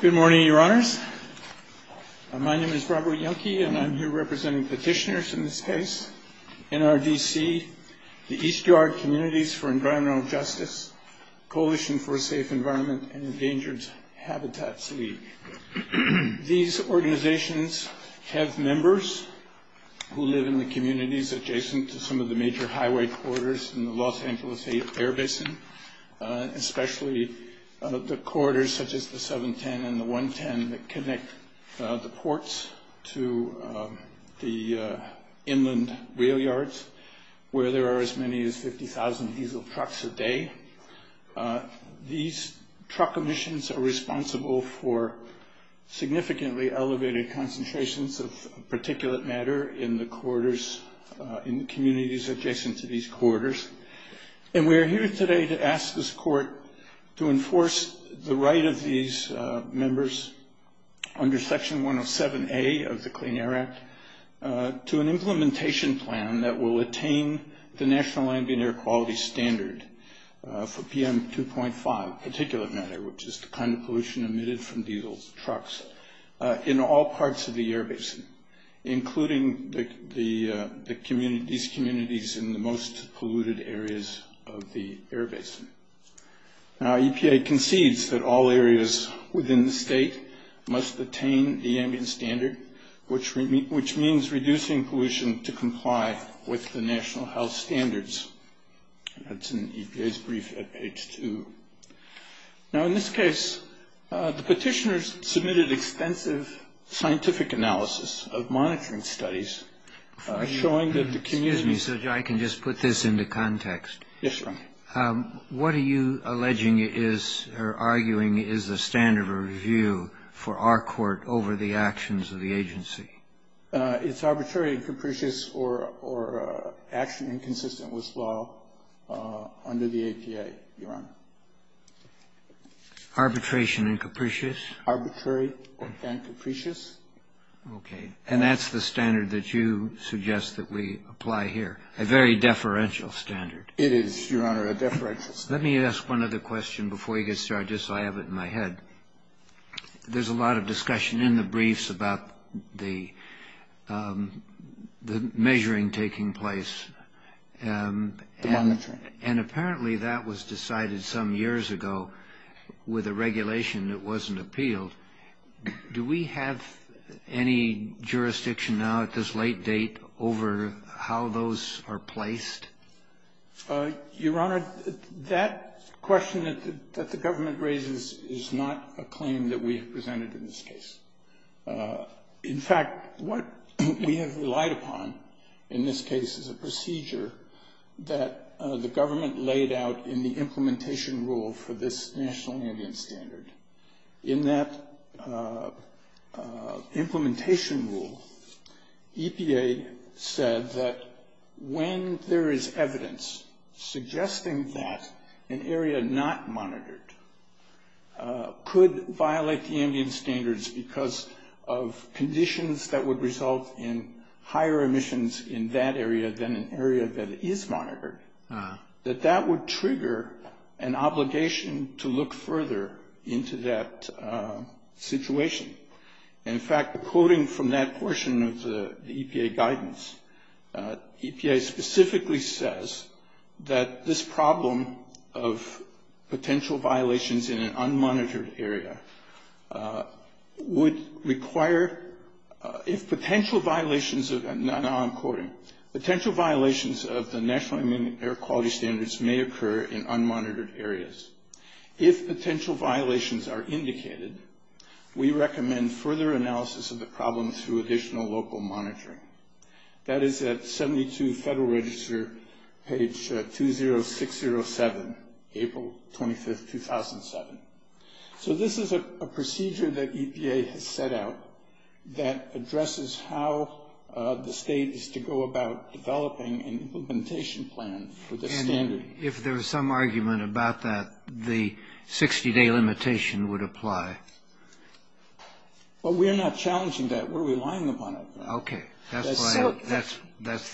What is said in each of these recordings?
Good morning, Your Honors. My name is Robert Yenke, and I'm here representing petitioners in this case, NRDC, the East Yard Communities for Environmental Justice, Coalition for a Safe Environment, and Endangered Habitats League. These organizations have members who live in the communities adjacent to some of the major highway corridors in the Los Angeles Air Basin, especially the corridors such as the 710 and the 110 that connect the ports to the inland rail yards, where there are as many as 50,000 diesel trucks a day. These truck emissions are responsible for significantly elevated concentrations of particulate matter in the communities adjacent to these corridors. And we are here today to ask this court to enforce the right of these members under Section 107A of the Clean Air Act to an implementation plan that will attain the National Ambient Air Quality Standard for PM 2.5 particulate matter, which is the kind of pollution emitted from diesel trucks in all parts of the air basin, including these communities in the most polluted areas of the air basin. Now, EPA concedes that all areas within the state must attain the ambient standard, which means reducing pollution to comply with the national health standards. That's in EPA's brief at page 2. Now, in this case, the petitioners submitted extensive scientific analysis of monitoring studies showing that the communities- Excuse me, Judge, I can just put this into context. Yes, Your Honor. What are you alleging is or arguing is the standard of review for our court over the actions of the agency? It's arbitrary and capricious or action inconsistent with law under the EPA, Your Honor. Arbitration and capricious? Arbitrary and capricious. Okay. And that's the standard that you suggest that we apply here, a very deferential standard. It is, Your Honor, a deferential standard. Let me ask one other question before you get started, just so I have it in my head. There's a lot of discussion in the briefs about the measuring taking place. The monitoring. And apparently that was decided some years ago with a regulation that wasn't appealed. Do we have any jurisdiction now at this late date over how those are placed? Your Honor, that question that the government raises is not a claim that we have presented in this case. In fact, what we have relied upon in this case is a procedure that the government laid out in the implementation rule for this National Indian Standard. In that implementation rule, EPA said that when there is evidence suggesting that an area not monitored could violate the Indian Standards because of conditions that would result in higher emissions in that area than an area that is monitored, that that would trigger an obligation to look further into that situation. In fact, quoting from that portion of the EPA guidance, EPA specifically says that this problem of potential violations in an unmonitored area would require, if potential violations of, now I'm quoting, potential violations of the National Indian Air Quality Standards may occur in unmonitored areas. If potential violations are indicated, we recommend further analysis of the problem through additional local monitoring. That is at 72 Federal Register, page 20607, April 25, 2007. So this is a procedure that EPA has set out that addresses how the state is to go about developing an implementation plan for this standard. And if there was some argument about that, the 60-day limitation would apply. Well, we're not challenging that. We're relying upon it. Okay. That's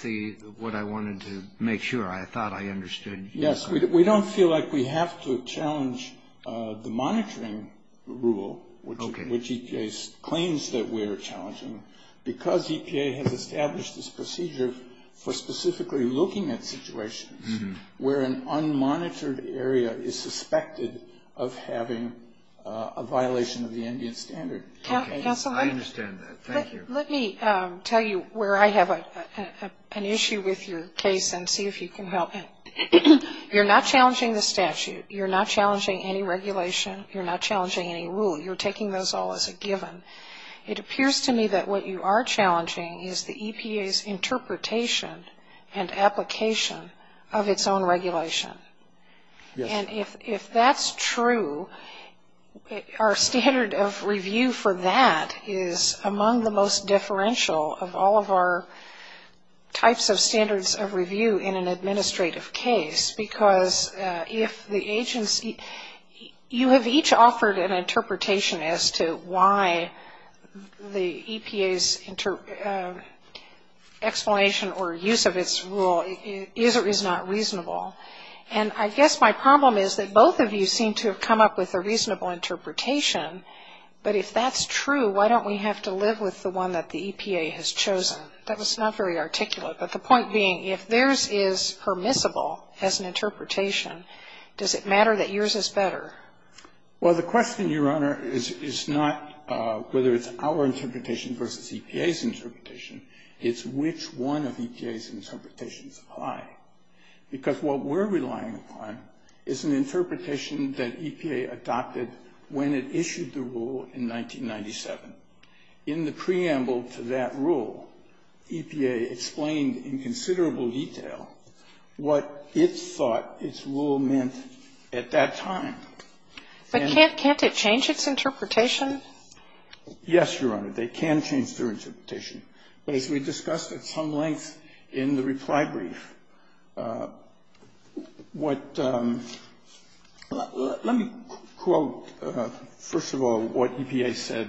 what I wanted to make sure I thought I understood. Yes, we don't feel like we have to challenge the monitoring rule, which EPA claims that we're challenging, because EPA has established this procedure for specifically looking at situations where an unmonitored area is suspected of having a violation of the Indian standard. I understand that. Thank you. Let me tell you where I have an issue with your case and see if you can help. You're not challenging the statute. You're not challenging any regulation. You're not challenging any rule. You're taking those all as a given. It appears to me that what you are challenging is the EPA's interpretation and application of its own regulation. Yes. And if that's true, our standard of review for that is among the most differential of all of our types of standards of review in an administrative case, because if the agency – you have each offered an interpretation as to why the EPA's explanation or use of its rule is or is not reasonable. And I guess my problem is that both of you seem to have come up with a reasonable interpretation. But if that's true, why don't we have to live with the one that the EPA has chosen? That was not very articulate. But the point being, if theirs is permissible as an interpretation, does it matter that yours is better? Well, the question, Your Honor, is not whether it's our interpretation versus EPA's interpretation. It's which one of EPA's interpretations apply. Because what we're relying upon is an interpretation that EPA adopted when it issued the rule in 1997. In the preamble to that rule, EPA explained in considerable detail what it thought its rule meant at that time. But can't it change its interpretation? Yes, Your Honor, they can change their interpretation. But as we discussed at some length in the reply brief, what – let me quote first of all what EPA said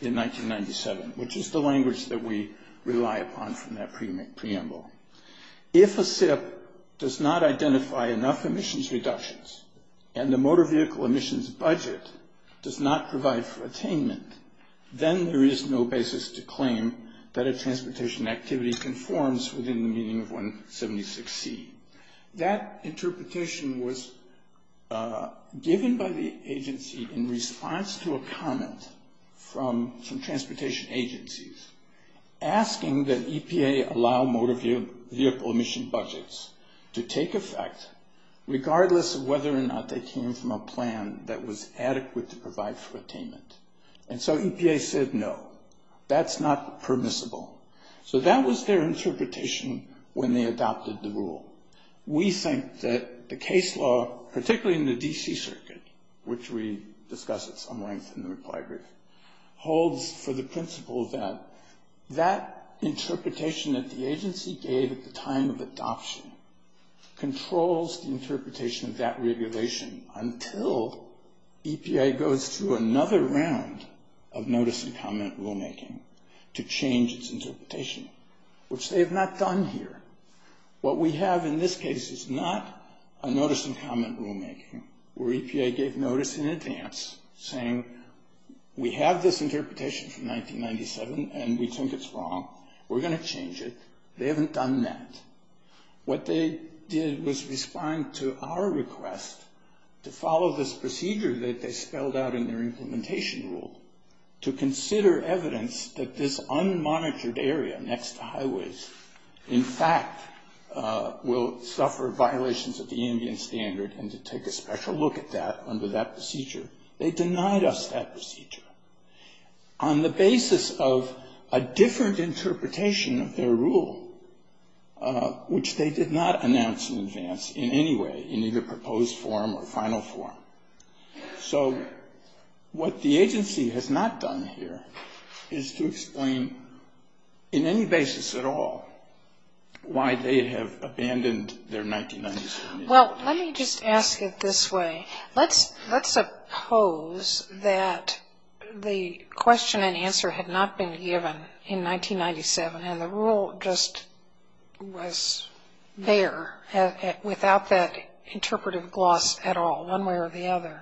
in 1997, which is the language that we rely upon from that preamble. If a SIP does not identify enough emissions reductions and the motor vehicle emissions budget does not provide for attainment, then there is no basis to claim that a transportation activity conforms within the meaning of 176C. That interpretation was given by the agency in response to a comment from some transportation agencies asking that EPA allow motor vehicle emission budgets to take effect, regardless of whether or not they came from a plan that was adequate to provide for attainment. And so EPA said no, that's not permissible. So that was their interpretation when they adopted the rule. We think that the case law, particularly in the D.C. Circuit, which we discussed at some length in the reply brief, holds for the principle that that interpretation that the agency gave at the time of adoption controls the interpretation of that regulation until EPA goes through another round of notice and comment rulemaking to change its interpretation, which they have not done here. What we have in this case is not a notice and comment rulemaking where EPA gave notice in advance saying we have this interpretation from 1997 and we think it's wrong. We're going to change it. They haven't done that. What they did was respond to our request to follow this procedure that they spelled out in their implementation rule to consider evidence that this unmonitored area next to highways in fact will suffer violations of the Indian Standard and to take a special look at that under that procedure. They denied us that procedure. On the basis of a different interpretation of their rule, which they did not announce in advance in any way, in either proposed form or final form. So what the agency has not done here is to explain in any basis at all why they have abandoned their 1997 rule. Well, let me just ask it this way. Let's suppose that the question and answer had not been given in 1997 and the rule just was there without that interpretive gloss at all one way or the other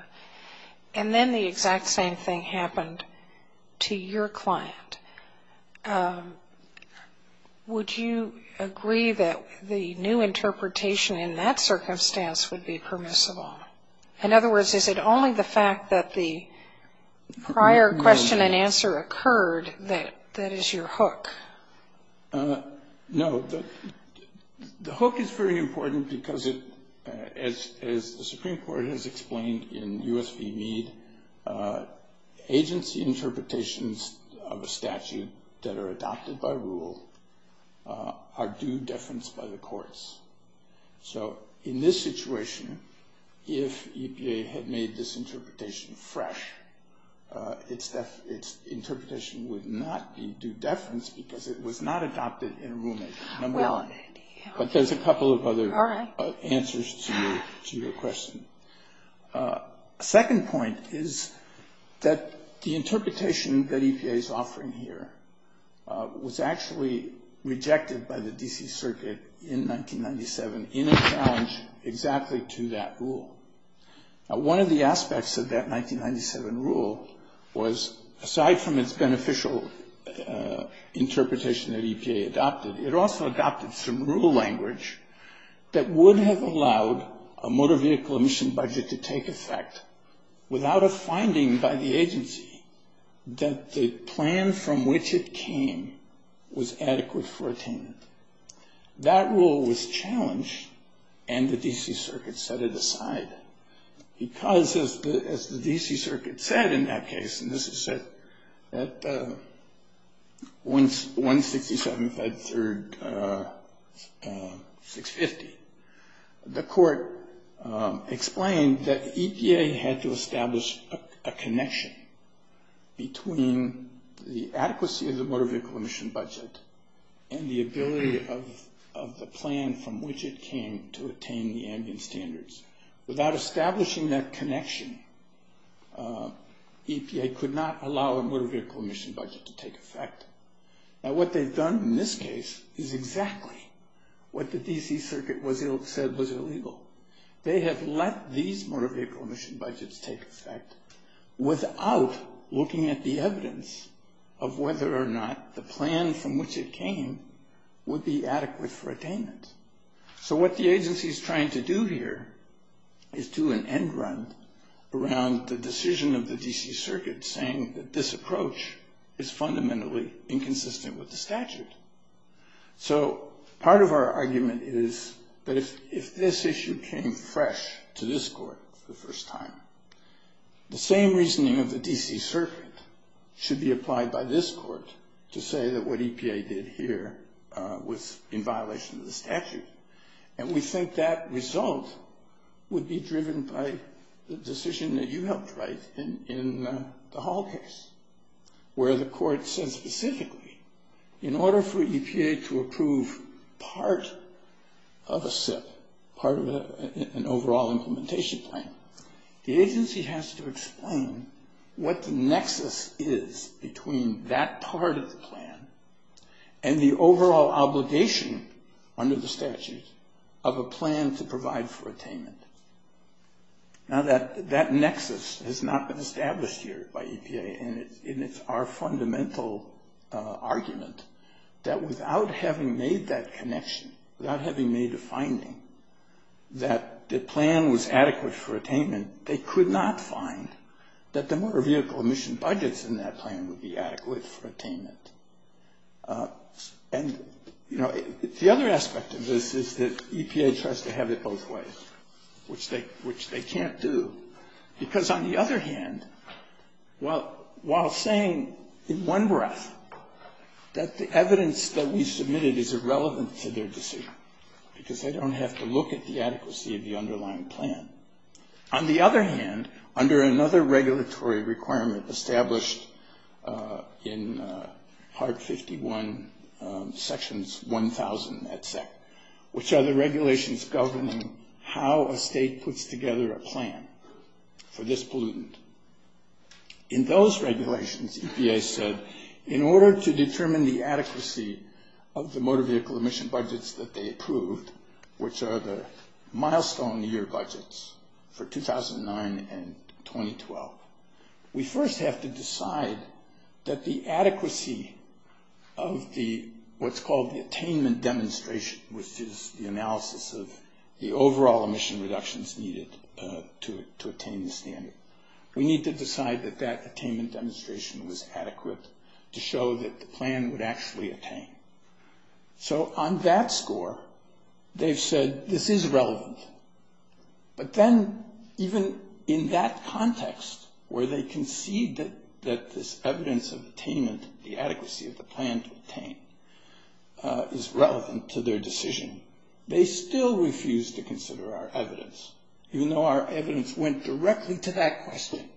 and then the exact same thing happened to your client. Would you agree that the new interpretation in that circumstance would be permissible? In other words, is it only the fact that the prior question and answer occurred that is your hook? No. The hook is very important because as the Supreme Court has explained in US v. statute that are adopted by rule are due deference by the courts. So in this situation, if EPA had made this interpretation fresh, its interpretation would not be due deference because it was not adopted in rulemaking, number one. But there's a couple of other answers to your question. Second point is that the interpretation that EPA is offering here was actually rejected by the D.C. Circuit in 1997 in a challenge exactly to that rule. One of the aspects of that 1997 rule was aside from its beneficial interpretation that EPA adopted, it also adopted some rule language that would have allowed a motor vehicle emission budget to take effect without a finding by the agency that the plan from which it came was adequate for attainment. That rule was challenged and the D.C. Circuit set it aside because as the D.C. Circuit in 1973, the court explained that EPA had to establish a connection between the adequacy of the motor vehicle emission budget and the ability of the plan from which it came to attain the ambient standards. Without establishing that connection, EPA could not allow a motor vehicle emission budget to take effect. Now what they've done in this case is exactly what the D.C. Circuit said was illegal. They have let these motor vehicle emission budgets take effect without looking at the evidence of whether or not the plan from which it came would be adequate for attainment. So what the agency is trying to do here is do an end run around the decision of the D.C. Circuit saying that this approach is fundamentally inconsistent with the statute. So part of our argument is that if this issue came fresh to this court for the first time, the same reasoning of the D.C. Circuit should be applied by this court to say that what EPA did here was in violation of the statute. And we think that result would be driven by the decision that you helped write in the Hall case where the court says specifically in order for EPA to approve part of a SIP, part of an overall implementation plan, the agency has to explain what the nexus is between that part of the plan and the overall obligation under the statute of a plan to provide for attainment. Now that nexus has not been established here by EPA, and it's our fundamental argument that without having made that connection, without having made a finding that the plan was adequate for attainment, they could not find that the motor vehicle emission budgets in that plan would be adequate for attainment. And, you know, the other aspect of this is that EPA tries to have it both ways, which they can't do because on the other hand, while saying in one breath that the evidence that we submitted is irrelevant to their decision because they don't have to look at the adequacy of the underlying plan, on the other hand, under another regulatory requirement established in Part 51, Sections 1000, which are the regulations governing how a state puts together a plan for this pollutant. In those regulations, EPA said in order to determine the adequacy of the motor vehicle emission budgets that they approved, which are the milestone year budgets for 2009 and 2012, we first have to decide that the adequacy of what's called the attainment demonstration, which is the analysis of the overall emission reductions needed to attain the standard, we need to decide that that attainment demonstration was adequate to show that the plan would actually attain. So on that score, they've said this is relevant. But then even in that context where they concede that this evidence of attainment, the adequacy of the plan to attain, is relevant to their decision, they still refuse to consider our evidence, even though our evidence went directly to that question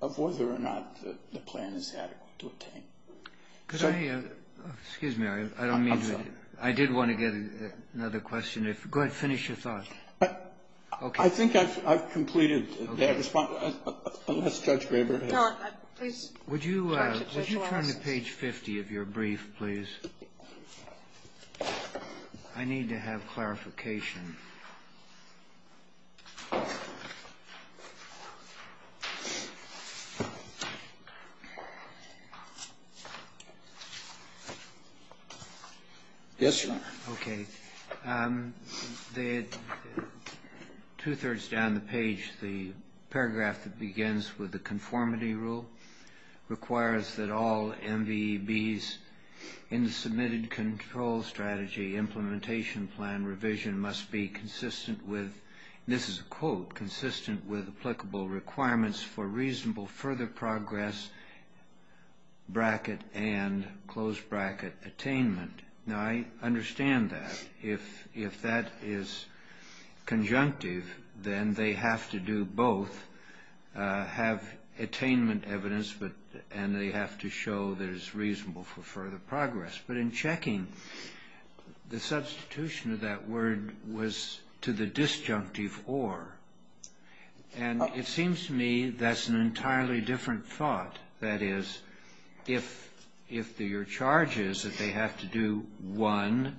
of whether or not the plan is adequate to attain. Excuse me. I did want to get another question. Go ahead. Finish your thought. I think I've completed. Unless Judge Graber has. Would you turn to page 50 of your brief, please? I need to have clarification. Yes, Your Honor. Okay. Two-thirds down the page, the paragraph that begins with the conformity rule requires that all MVBs in the submitted control strategy implementation plan revision must be consistent with, and this is a quote, consistent with applicable requirements for reasonable further progress bracket and close bracket attainment. Now, I understand that. If that is conjunctive, then they have to do both, have attainment evidence, and they have to show that it's reasonable for further progress. But in checking, the substitution of that word was to the disjunctive or. And it seems to me that's an entirely different thought. That is, if your charge is that they have to do one,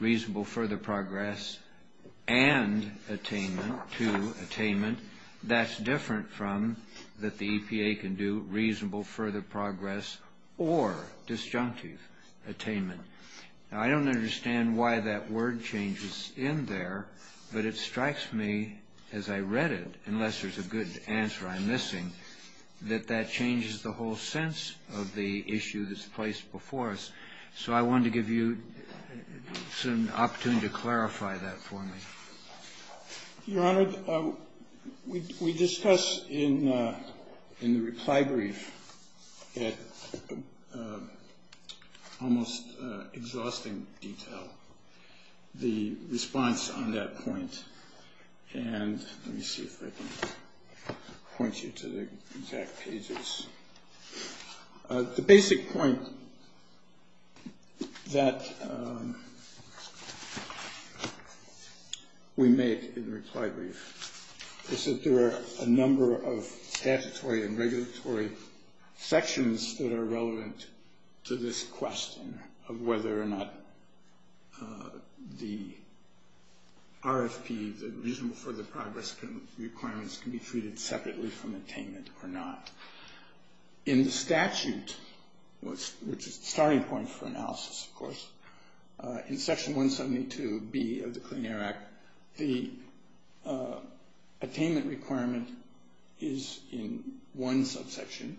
reasonable further progress, and attainment, two, attainment, that's different from that the EPA can do reasonable further progress or disjunctive attainment. Now, I don't understand why that word changes in there, but it strikes me as I read it, unless there's a good answer I'm missing, that that changes the whole sense of the issue that's placed before us. So I wanted to give you an opportunity to clarify that for me. Your Honor, we discussed in the reply brief at almost exhausting detail the response on that point. And let me see if I can point you to the exact pages. The basic point that we make in the reply brief is that there are a number of statutory and regulatory sections that are relevant to this question of whether or not the RFP, the reasonable further progress requirements, can be treated separately from attainment or not. In the statute, which is the starting point for analysis, of course, in Section 172B of the Clean Air Act, the attainment requirement is in one subsection,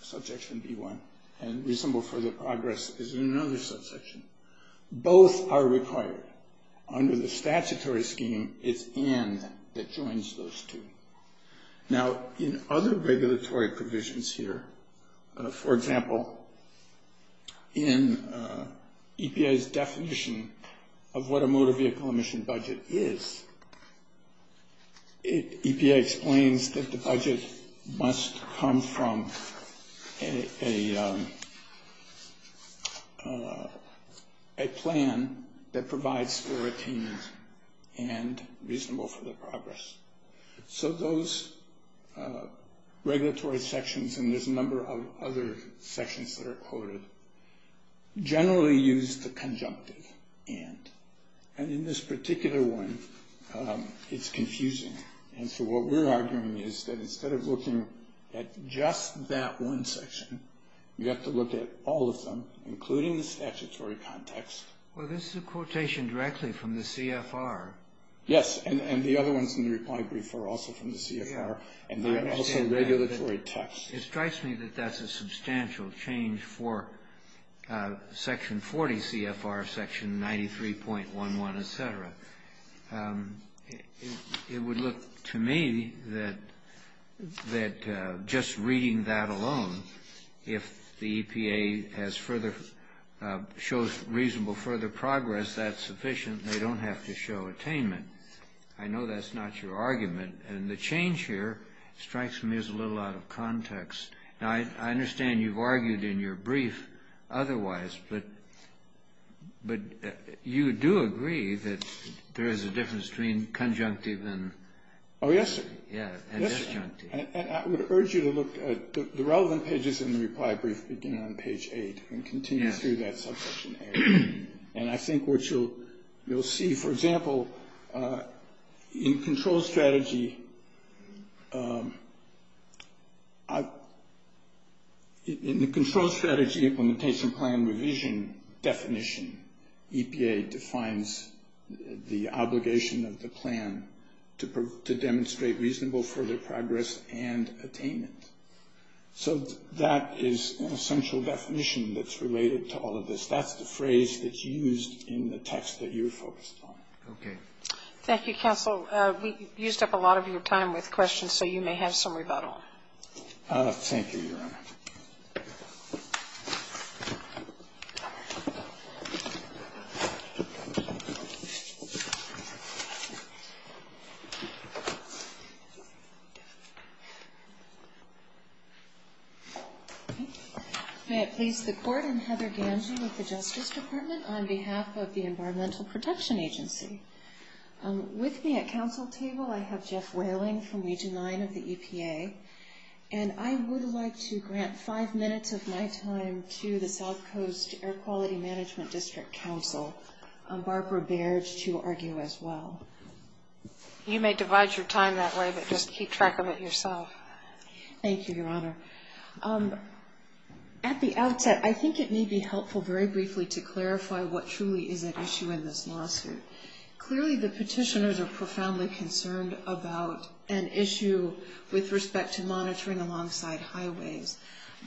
subsection B1, and reasonable further progress is in another subsection. Both are required. Under the statutory scheme, it's in that joins those two. Now, in other regulatory provisions here, for example, in EPA's definition of what a motor vehicle emission budget is, EPA explains that the budget must come from a plan that provides for attainment and reasonable further progress. So those regulatory sections, and there's a number of other sections that are quoted, generally use the conjunctive and. And in this particular one, it's confusing. And so what we're arguing is that instead of looking at just that one section, you have to look at all of them, including the statutory context. Well, this is a quotation directly from the CFR. Yes, and the other ones in the reply brief are also from the CFR, and they are also regulatory texts. It strikes me that that's a substantial change for Section 40 CFR, Section 93.11, et cetera. It would look to me that just reading that alone, if the EPA shows reasonable further progress, that's sufficient. They don't have to show attainment. I know that's not your argument. And the change here strikes me as a little out of context. Now, I understand you've argued in your brief otherwise, but you do agree that there is a difference between conjunctive and disjunctive. Oh, yes. I would urge you to look at the relevant pages in the reply brief, beginning on page 8, and continue through that subjection area. And I think what you'll see, for example, in the control strategy implementation plan revision definition, EPA defines the obligation of the plan to demonstrate reasonable further progress and attainment. So that is an essential definition that's related to all of this. That's the phrase that's used in the text that you're focused on. Okay. Thank you, counsel. We've used up a lot of your time with questions, so you may have some rebuttal. Thank you, Your Honor. May it please the Court. I'm Heather Gange with the Justice Department on behalf of the Environmental Protection Agency. With me at counsel table, I have Jeff Whaling from Region 9 of the EPA. And I would like to grant five minutes of my time to the South Coast Air Quality Management District Counsel, Barbara Baird, to argue as well. You may divide your time that way, but just keep track of it yourself. Thank you, Your Honor. At the outset, I think it may be helpful very briefly to clarify what truly is at issue in this lawsuit. Clearly, the petitioners are profoundly concerned about an issue with respect to monitoring alongside highways.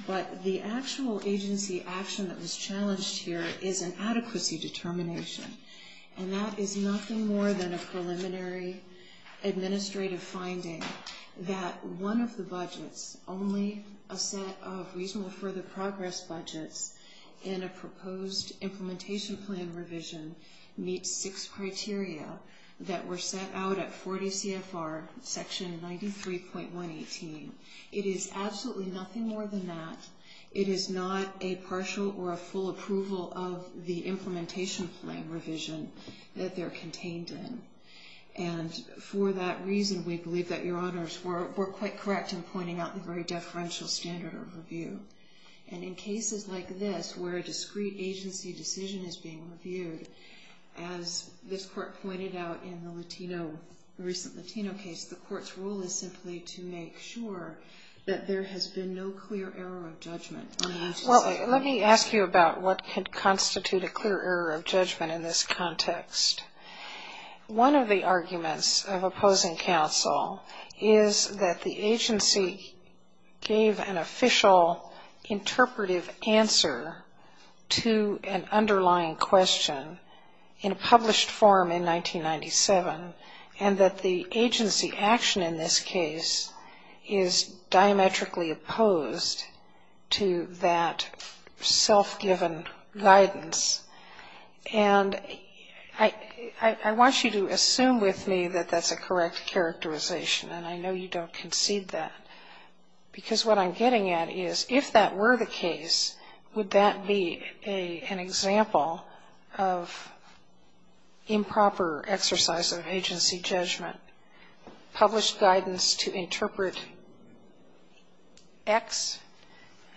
But the actual agency action that was challenged here is an adequacy determination. And that is nothing more than a preliminary administrative finding that one of the budgets, only a set of reasonable further progress budgets in a proposed implementation plan revision meets six criteria that were set out at 40 CFR section 93.118. It is absolutely nothing more than that. It is not a partial or a full approval of the implementation plan revision that they're contained in. And for that reason, we believe that Your Honors were quite correct in pointing out the very deferential standard of review. And in cases like this where a discrete agency decision is being reviewed, as this Court pointed out in the recent Latino case, the Court's role is simply to make sure that there has been no clear error of judgment. Well, let me ask you about what could constitute a clear error of judgment in this context. One of the arguments of opposing counsel is that the agency gave an official interpretive answer to an underlying question in a published form in 1997, and that the agency action in this case is diametrically opposed to that self-given guidance. And I want you to assume with me that that's a correct characterization, and I know you don't concede that. Because what I'm getting at is if that were the case, would that be an example of improper exercise of agency judgment, published guidance to interpret X,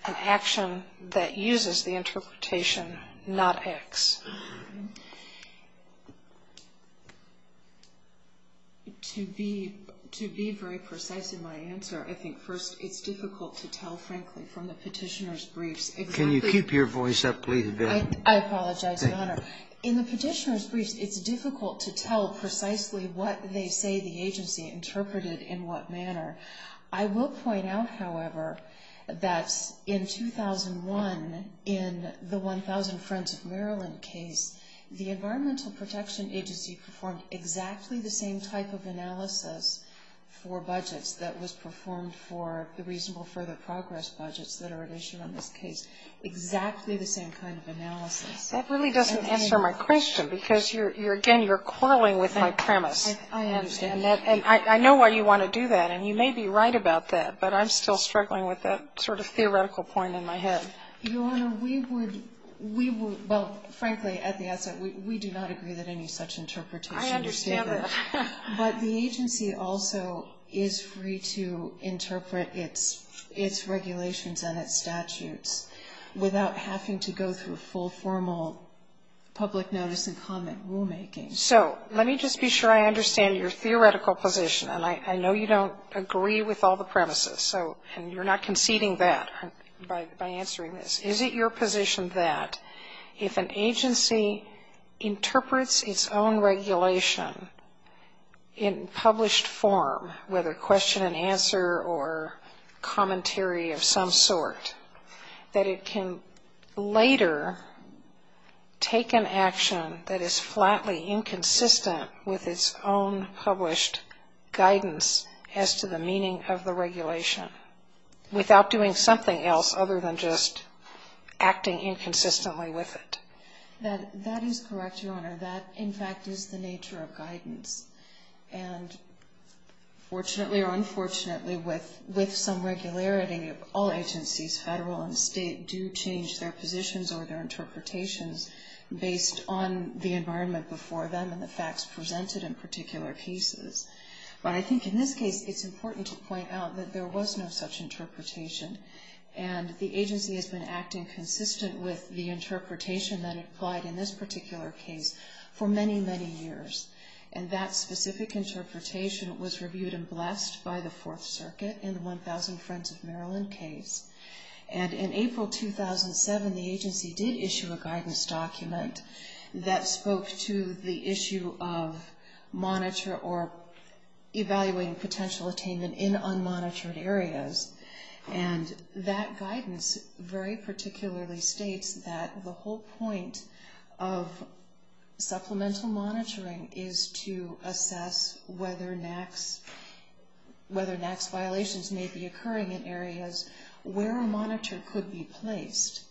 an action that uses the interpretation not X? To be very precise in my answer, I think, first, it's difficult to tell, frankly, from the petitioner's briefs exactly... Can you keep your voice up, please? I apologize, Your Honor. In the petitioner's briefs, it's difficult to tell precisely what they say the agency interpreted in what manner. I will point out, however, that in 2001, in the 1,000 Friends of Maryland case, the Environmental Protection Agency performed exactly the same type of analysis for budgets that was performed for the Reasonable Further Progress budgets that are at issue on this case. Exactly the same kind of analysis. That really doesn't answer my question, because, again, you're quarreling with my premise. I understand. And I know why you want to do that, and you may be right about that, but I'm still struggling with that sort of theoretical point in my head. Your Honor, we would, we would, well, frankly, at the outset, we do not agree that any such interpretation was taken. I understand that. But the agency also is free to interpret its regulations and its statutes without having to go through full formal public notice and comment rulemaking. So let me just be sure I understand your theoretical position, and I know you don't agree with all the premises, and you're not conceding that by answering this. Is it your position that if an agency interprets its own regulation in published form, whether question and answer or commentary of some sort, that it can later take an action that is flatly inconsistent with its own published guidance as to the meaning of the regulation without doing something else other than just acting inconsistently with it? That is correct, Your Honor. That, in fact, is the nature of guidance. And fortunately or unfortunately, with some regularity, all agencies, federal and state, do change their positions or their interpretations based on the environment before them and the facts presented in particular pieces. But I think in this case, it's important to point out that there was no such interpretation, and the agency has been acting consistent with the interpretation that applied in this particular case for many, many years. And that specific interpretation was reviewed and blessed by the Fourth Circuit in the 1,000 Friends of Maryland case. And in April 2007, the agency did issue a guidance document that spoke to the issue of monitor or evaluating potential attainment in unmonitored areas. And that guidance very particularly states that the whole point of supplemental monitoring is to assess whether NAAQS violations may be occurring in areas where a monitor could be placed.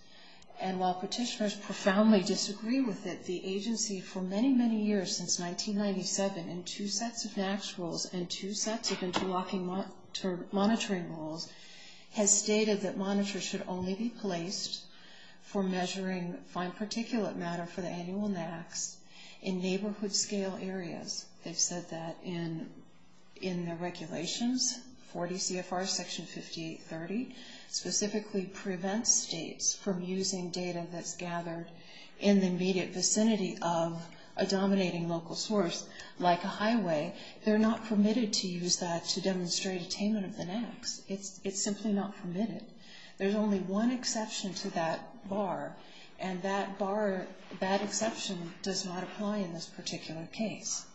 And while petitioners profoundly disagree with it, the agency, for many, many years, since 1997, in two sets of NAAQS rules and two sets of interlocking monitoring rules, has stated that monitors should only be placed for measuring fine particulate matter for the annual NAAQS in neighborhood-scale areas. They've said that in their regulations, 40 CFR Section 5830, specifically prevents states from using data that's gathered in the immediate vicinity of a dominating local source, like a highway. They're not permitted to use that to demonstrate attainment of the NAAQS. It's simply not permitted. There's only one exception to that bar, and that bar, that exception does not apply in this particular case.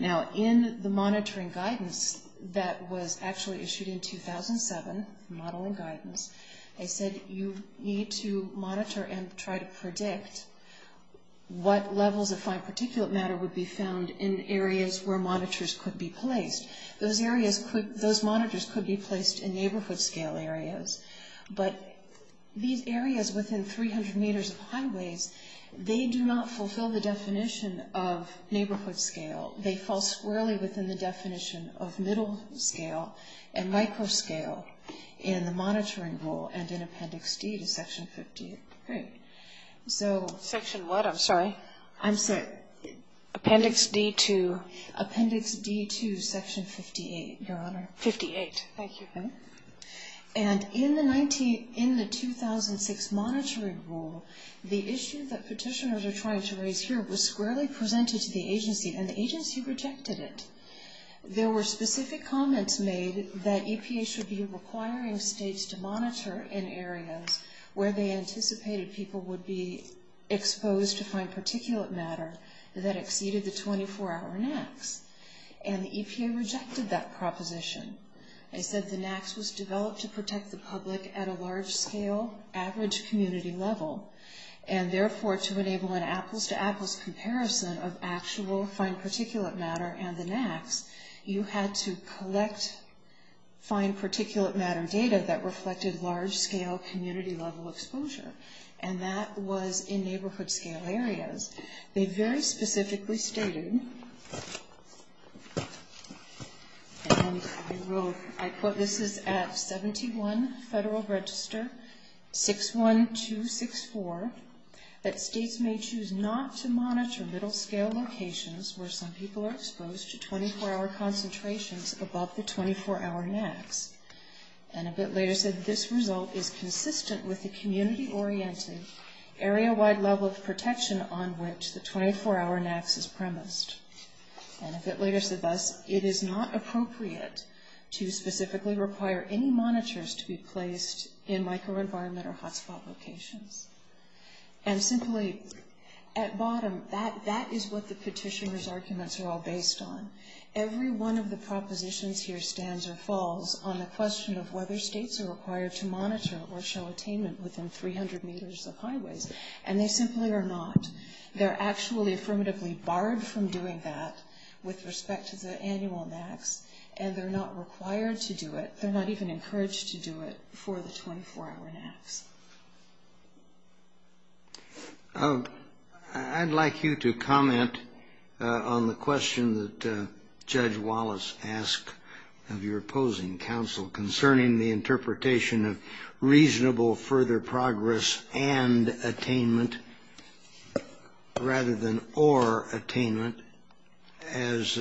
Now, in the monitoring guidance that was actually issued in 2007, modeling guidance, they said you need to monitor and try to predict what levels of fine particulate matter would be found in areas where monitors could be placed. Those monitors could be placed in neighborhood-scale areas, but these areas within 300 meters of highways, they do not fulfill the definition of neighborhood-scale. They fall squarely within the definition of middle-scale and micro-scale in the monitoring rule and in Appendix D to Section 58. Great. So... Section what? I'm sorry. I'm sorry. Appendix D2. Appendix D2, Section 58, Your Honor. 58. Thank you. And in the 2006 monitoring rule, the issue that petitioners are trying to raise here was squarely presented to the agency, and the agency rejected it. There were specific comments made that EPA should be requiring states to monitor in areas where they anticipated people would be exposed to fine particulate matter that exceeded the 24-hour NAAQS, and the EPA rejected that proposition. They said the NAAQS was developed to protect the public at a large-scale, average community level, and therefore to enable an apples-to-apples comparison of actual fine particulate matter and the NAAQS, you had to collect fine particulate matter data that reflected large-scale community-level exposure, and that was in neighborhood-scale areas. They very specifically stated, and I quote, this is at 71 Federal Register 61264, that states may choose not to monitor little-scale locations where some people are exposed to 24-hour concentrations above the 24-hour NAAQS. And a bit later said, this result is consistent with the community-oriented, area-wide level of protection on which the 24-hour NAAQS is premised. And a bit later said thus, it is not appropriate to specifically require any monitors to be placed in microenvironment or hotspot locations. And simply, at bottom, that is what the petitioner's arguments are all based on. Every one of the propositions here stands or falls on the question of whether states are required to monitor or show attainment within 300 meters of highways, and they simply are not. They're actually affirmatively barred from doing that with respect to the annual NAAQS, and they're not required to do it, they're not even encouraged to do it for the 24-hour NAAQS. I'd like you to comment on the question that Judge Wallace asked of your opposing counsel concerning the interpretation of reasonable further progress and attainment rather than or attainment as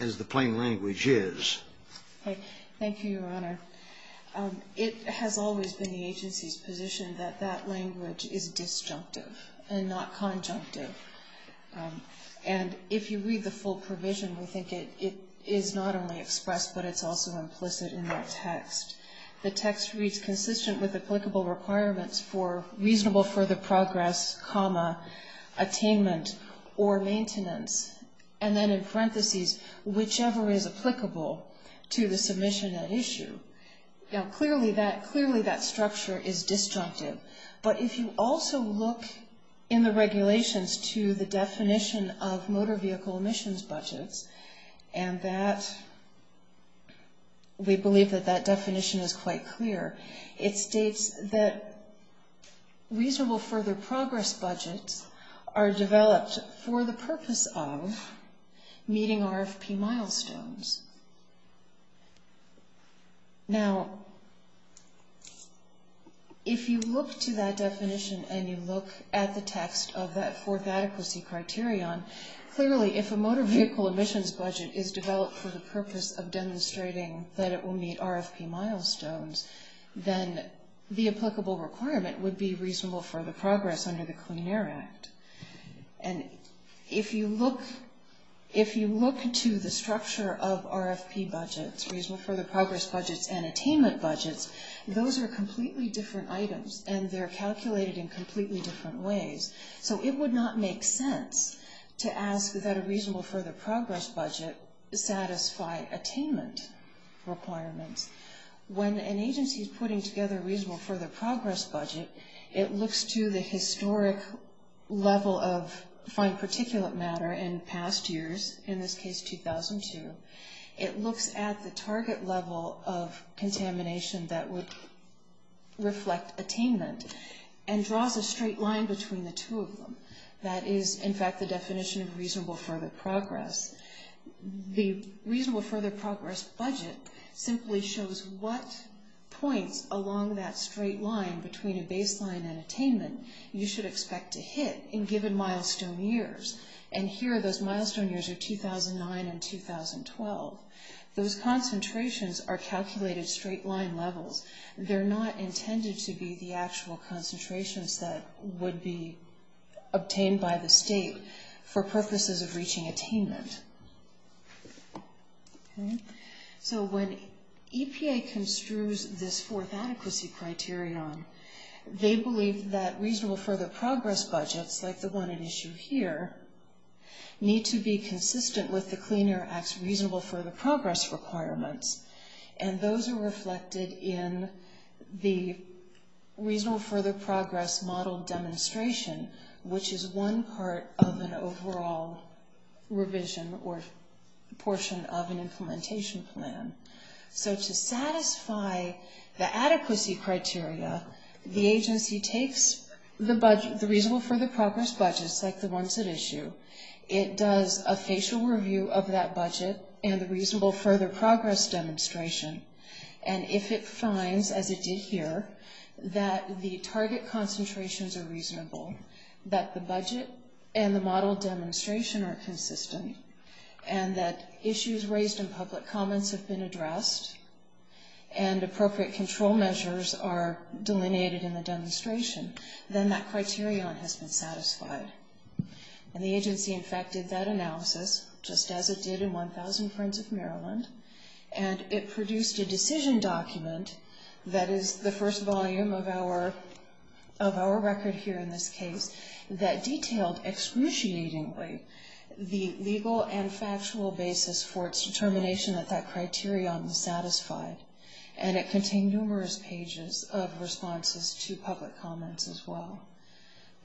the plain language is. It has always been the agency's position that that language is disjunctive and not conjunctive. And if you read the full provision, we think it is not only expressed, but it's also implicit in the text. The text reads, consistent with applicable requirements for reasonable further progress, comma, attainment, or maintenance, and then in parentheses, whichever is applicable to the submission at issue. Now, clearly that structure is disjunctive. But if you also look in the regulations to the definition of motor vehicle emissions budgets, and we believe that that definition is quite clear, it states that reasonable further progress budgets are developed for the purpose of meeting RFP milestones. Now, if you look to that definition and you look at the text of that fourth adequacy criterion, clearly if a motor vehicle emissions budget is developed for the purpose of demonstrating that it will meet RFP milestones, then the applicable requirement would be reasonable further progress under the Clean Air Act. And if you look to the structure of RFP budgets, reasonable further progress budgets, and attainment budgets, those are completely different items, and they're calculated in completely different ways. So it would not make sense to ask that a reasonable further progress budget satisfy attainment requirements when an agency is putting together a reasonable further progress budget. It looks to the historic level of fine particulate matter in past years, in this case 2002. It looks at the target level of contamination that would reflect attainment and draws a straight line between the two of them. That is, in fact, the definition of reasonable further progress. The reasonable further progress budget simply shows what points along that straight line between a baseline and attainment you should expect to hit in given milestone years. And here, those milestone years are 2009 and 2012. Those concentrations are calculated straight line levels. They're not intended to be the actual concentrations that would be obtained by the state for purposes of reaching attainment. So when EPA construes this fourth adequacy criterion, they believe that reasonable further progress budgets, like the one at issue here, need to be consistent with the Clean Air Act's reasonable further progress requirements. And those are reflected in the reasonable further progress model demonstration, which is one part of an overall revision or portion of an implementation plan. So to satisfy the adequacy criteria, the agency takes the reasonable further progress budgets, like the ones at issue. It does a facial review of that budget and the reasonable further progress demonstration. And if it finds, as it did here, that the target concentrations are reasonable, that the budget and the model demonstration are consistent, and that issues raised in public comments have been addressed, and appropriate control measures are delineated in the demonstration, then that criterion has been satisfied. And the agency, in fact, did that analysis, just as it did in 1,000 Friends of Maryland. And it produced a decision document that is the first volume of our record here in this case, that detailed excruciatingly the legal and factual basis for its determination that that criterion was satisfied. And it contained numerous pages of responses to public comments as well.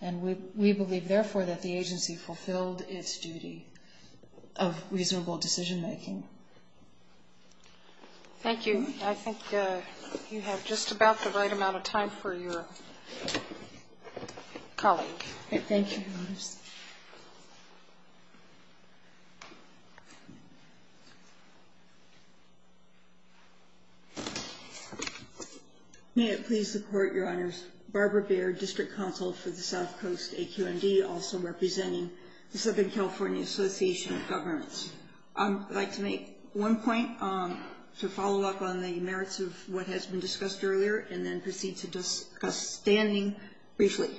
And we believe, therefore, that the agency fulfilled its duty of reasonable decision-making. Thank you. I think you have just about the right amount of time for your colleague. Thank you. Thank you, Your Honors. May it please the Court, Your Honors. Barbara Baird, District Counsel for the South Coast AQMD, also representing the Southern California Association of Governments. I'd like to make one point to follow up on the merits of what has been discussed earlier and then proceed to discuss standing briefly.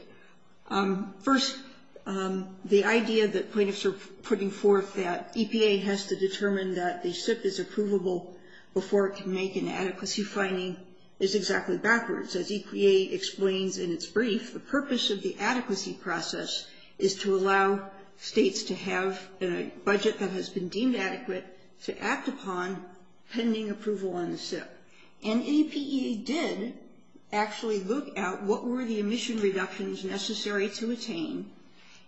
First, the idea that plaintiffs are putting forth that EPA has to determine that the SIP is approvable before it can make an adequacy finding is exactly backwards. As EPA explains in its brief, the purpose of the adequacy process is to allow states to have a budget that has been deemed adequate to act upon pending approval on the SIP. And EPA did actually look at what were the emission reductions necessary to attain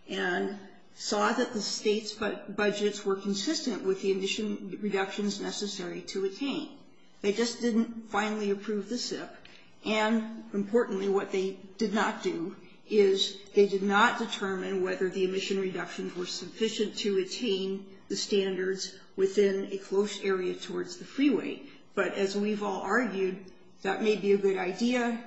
and saw that the states' budgets were consistent with the emission reductions necessary to attain. They just didn't finally approve the SIP. And, importantly, what they did not do is they did not determine whether the emission reductions were sufficient to attain the standards within a close area towards the freeway. But, as we've all argued, that may be a good idea.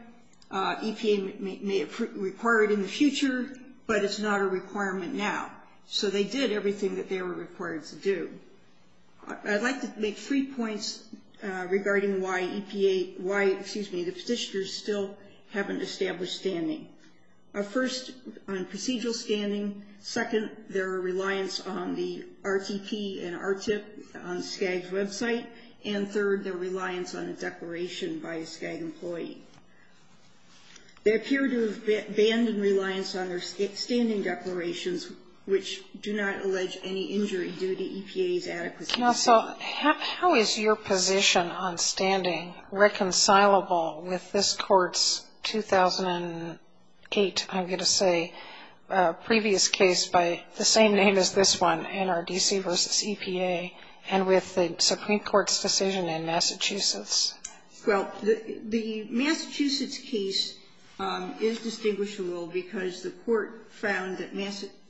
EPA may require it in the future, but it's not a requirement now. So they did everything that they were required to do. I'd like to make three points regarding why the petitioners still haven't established standing. First, on procedural standing. Second, their reliance on the RTP and RTIP on SCAG's website. And, third, their reliance on the declaration by a SCAG employee. They appear to have abandoned reliance on their standing declarations, which do not allege any injury due to EPA's adequacy. Now, so how is your position on standing reconcilable with this Court's 2008, I'm going to say, previous case by the same name as this one, NRDC v. EPA, and with the Supreme Court's decision in Massachusetts? Well, the Massachusetts case is distinguishable because the Court found that,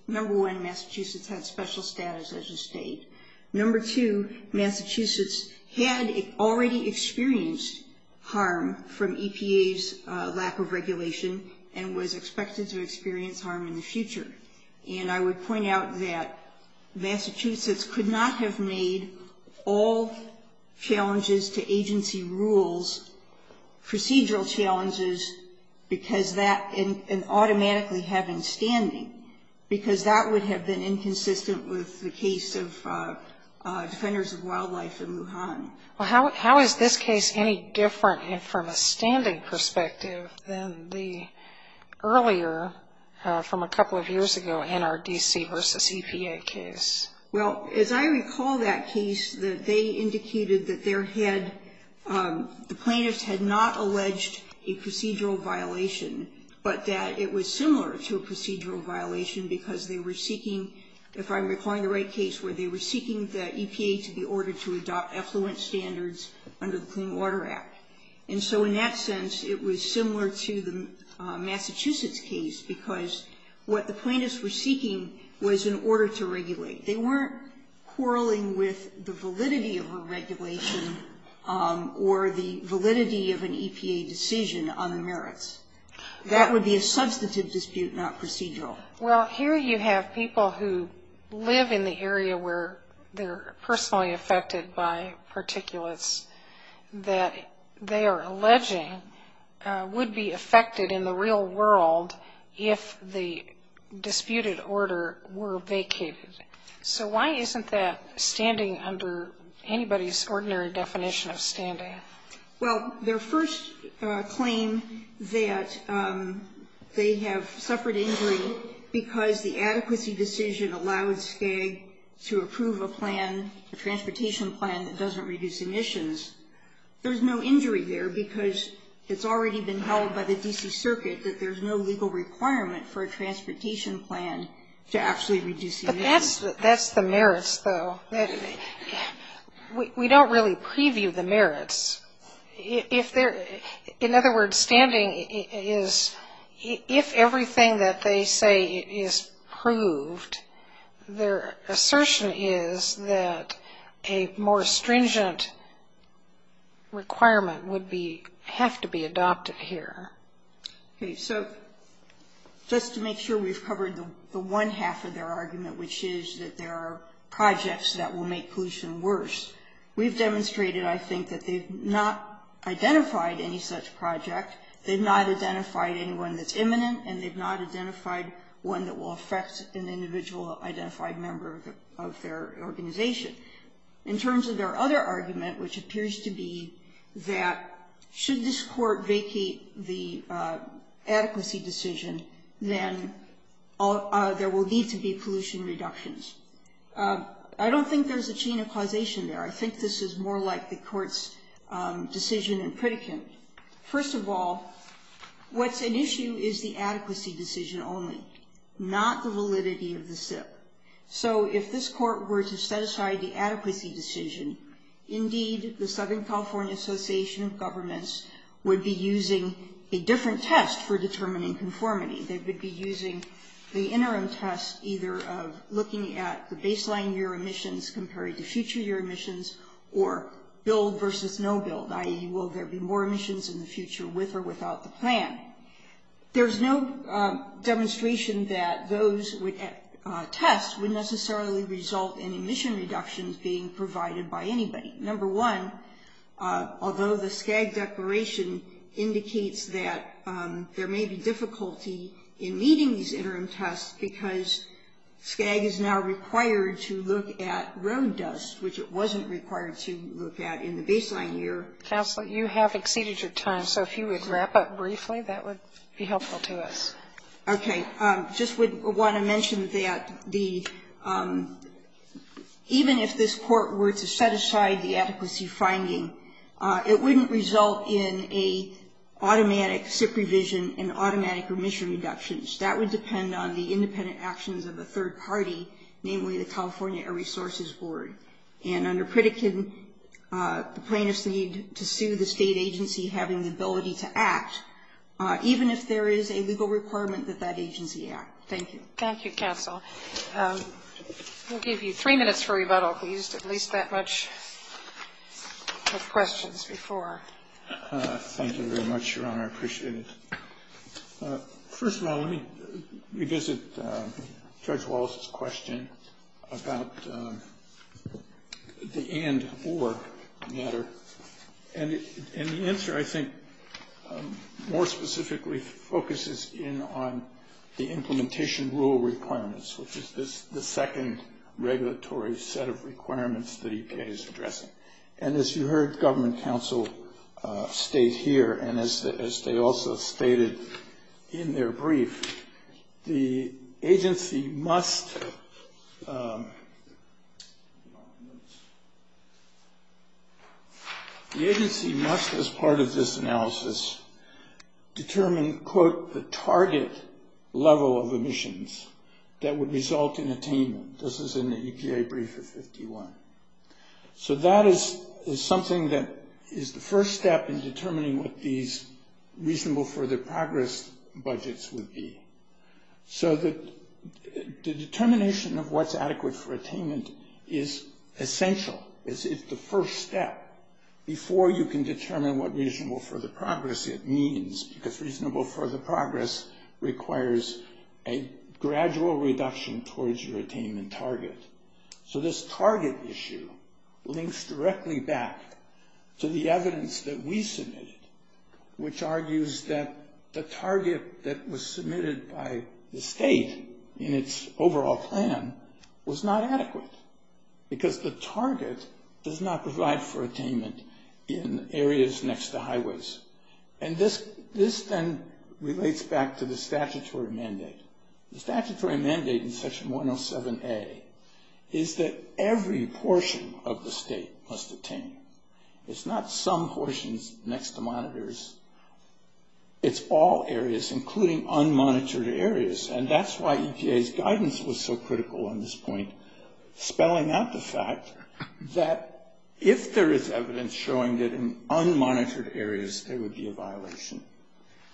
number one, Massachusetts had special status as a state. Number two, Massachusetts had already experienced harm from EPA's lack of regulation and was expected to experience harm in the future. And I would point out that Massachusetts could not have made all challenges to agency rules procedural challenges and automatically have been standing, because that would have been inconsistent with the case of Defenders of Wildlife in Lujan. Well, how is this case any different from a standing perspective than the earlier, from a couple of years ago, NRDC v. EPA case? Well, as I recall that case, they indicated that the plaintiffs had not alleged a procedural violation, but that it was similar to a procedural violation because they were seeking, if I'm recalling the right case, where they were seeking the EPA to be ordered to adopt effluent standards under the Clean Water Act. And so in that sense, it was similar to the Massachusetts case because what the plaintiffs were seeking was an order to regulate. They weren't quarreling with the validity of a regulation or the validity of an EPA decision on the merits. That would be a substantive dispute, not procedural. Well, here you have people who live in the area where they're personally affected by particulates that they are alleging would be affected in the real world if the disputed order were vacated. So why isn't that standing under anybody's ordinary definition of standing? Well, their first claim that they have suffered injury because the adequacy decision allowed SCAG to approve a plan, a transportation plan that doesn't reduce emissions. There's no injury there because it's already been held by the D.C. Circuit that there's no legal requirement for a transportation plan to actually reduce emissions. But that's the merits, though. We don't really preview the merits. In other words, standing is if everything that they say is proved, their assertion is that a more stringent requirement would have to be adopted here. Okay. So just to make sure we've covered the one half of their argument, which is that there are projects that will make pollution worse. We've demonstrated, I think, that they've not identified any such project. They've not identified anyone that's imminent, and they've not identified one that will affect an individual identified member of their organization. In terms of their other argument, which appears to be that should this court vacate the adequacy decision, then there will need to be pollution reductions. I don't think there's a chain of causation there. I think this is more like the court's decision in Pritikin. First of all, what's an issue is the adequacy decision only, not the validity of the SIP. So if this court were to set aside the adequacy decision, indeed the Southern California Association of Governments would be using a different test for determining conformity. They would be using the interim test either of looking at the baseline year emissions compared to future year emissions or build versus no build, i.e. will there be more emissions in the future with or without the plan. There's no demonstration that those tests would necessarily result in emission reductions being provided by anybody. Number one, although the SKAG declaration indicates that there may be difficulty in meeting these interim tests because SKAG is now required to look at road dust, which it wasn't required to look at in the baseline year. Counsel, you have exceeded your time, so if you would wrap up briefly, that would be helpful to us. Okay. I just would want to mention that even if this court were to set aside the adequacy finding, it wouldn't result in an automatic SIP revision and automatic emission reductions. That would depend on the independent actions of a third party, namely the California Air Resources Board. And under Pritikin, the plaintiffs need to sue the state agency having the ability to act, even if there is a legal requirement that that agency act. Thank you. Thank you, counsel. We'll give you three minutes for rebuttal if we used at least that much of questions before. Thank you very much, Your Honor. I appreciate it. First of all, let me revisit Judge Wallace's question about the and or matter. And the answer, I think, more specifically focuses in on the implementation rule requirements, which is the second regulatory set of requirements that EPA is addressing. And as you heard government counsel state here, and as they also stated in their brief, the agency must as part of this analysis determine, quote, the target level of emissions that would result in attainment. This is in the EPA brief of 51. So that is something that is the first step in determining what these reasonable further progress budgets would be. So the determination of what's adequate for attainment is essential. It's the first step before you can determine what reasonable further progress it means, because reasonable further progress requires a gradual reduction towards your attainment target. So this target issue links directly back to the evidence that we submitted, which argues that the target that was submitted by the state in its overall plan was not adequate, because the target does not provide for attainment in areas next to highways. And this then relates back to the statutory mandate. The statutory mandate in Section 107A is that every portion of the state must attain. It's not some portions next to monitors. It's all areas, including unmonitored areas. And that's why EPA's guidance was so critical on this point, spelling out the fact that if there is evidence showing that in unmonitored areas there would be a violation,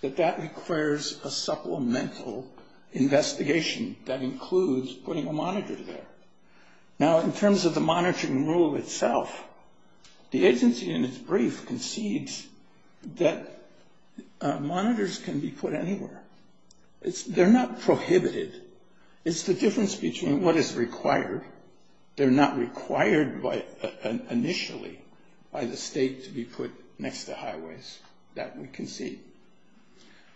that that requires a supplemental investigation that includes putting a monitor there. Now, in terms of the monitoring rule itself, the agency in its brief concedes that monitors can be put anywhere. They're not prohibited. It's the difference between what is required. They're not required initially by the state to be put next to highways. That we concede.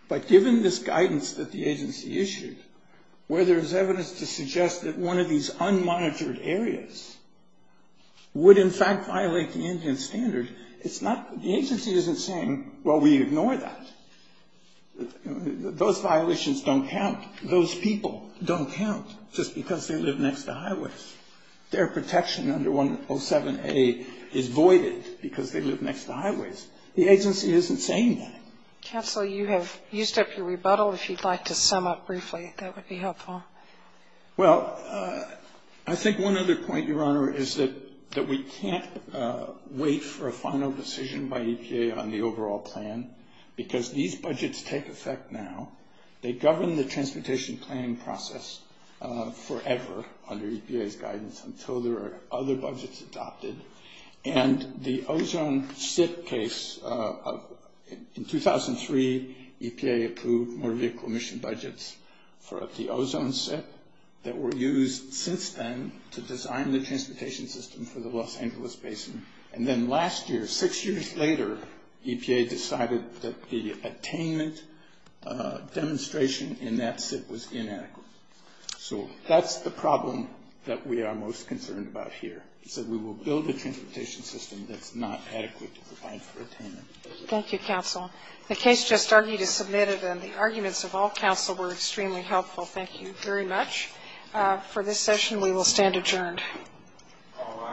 But given this guidance that the agency issued, where there is evidence to suggest that one of these unmonitored areas would in fact violate the Indian standard, the agency isn't saying, well, we ignore that. Those violations don't count. Those people don't count just because they live next to highways. Their protection under 107A is voided because they live next to highways. The agency isn't saying that. Counsel, you have used up your rebuttal. If you'd like to sum up briefly, that would be helpful. Well, I think one other point, Your Honor, is that we can't wait for a final decision by EPA on the overall plan because these budgets take effect now. They govern the transportation planning process forever under EPA's guidance until there are other budgets adopted. And the Ozone SIT case, in 2003, EPA approved more vehicle emission budgets for the Ozone SIT that were used since then to design the transportation system for the Los Angeles Basin. And then last year, six years later, EPA decided that the attainment demonstration in that SIT was inadequate. So that's the problem that we are most concerned about here, is that we will build a transportation system that's not adequate to provide for attainment. Thank you, counsel. The case just argued is submitted, and the arguments of all counsel were extremely helpful. Thank you very much. For this session, we will stand adjourned. All rise.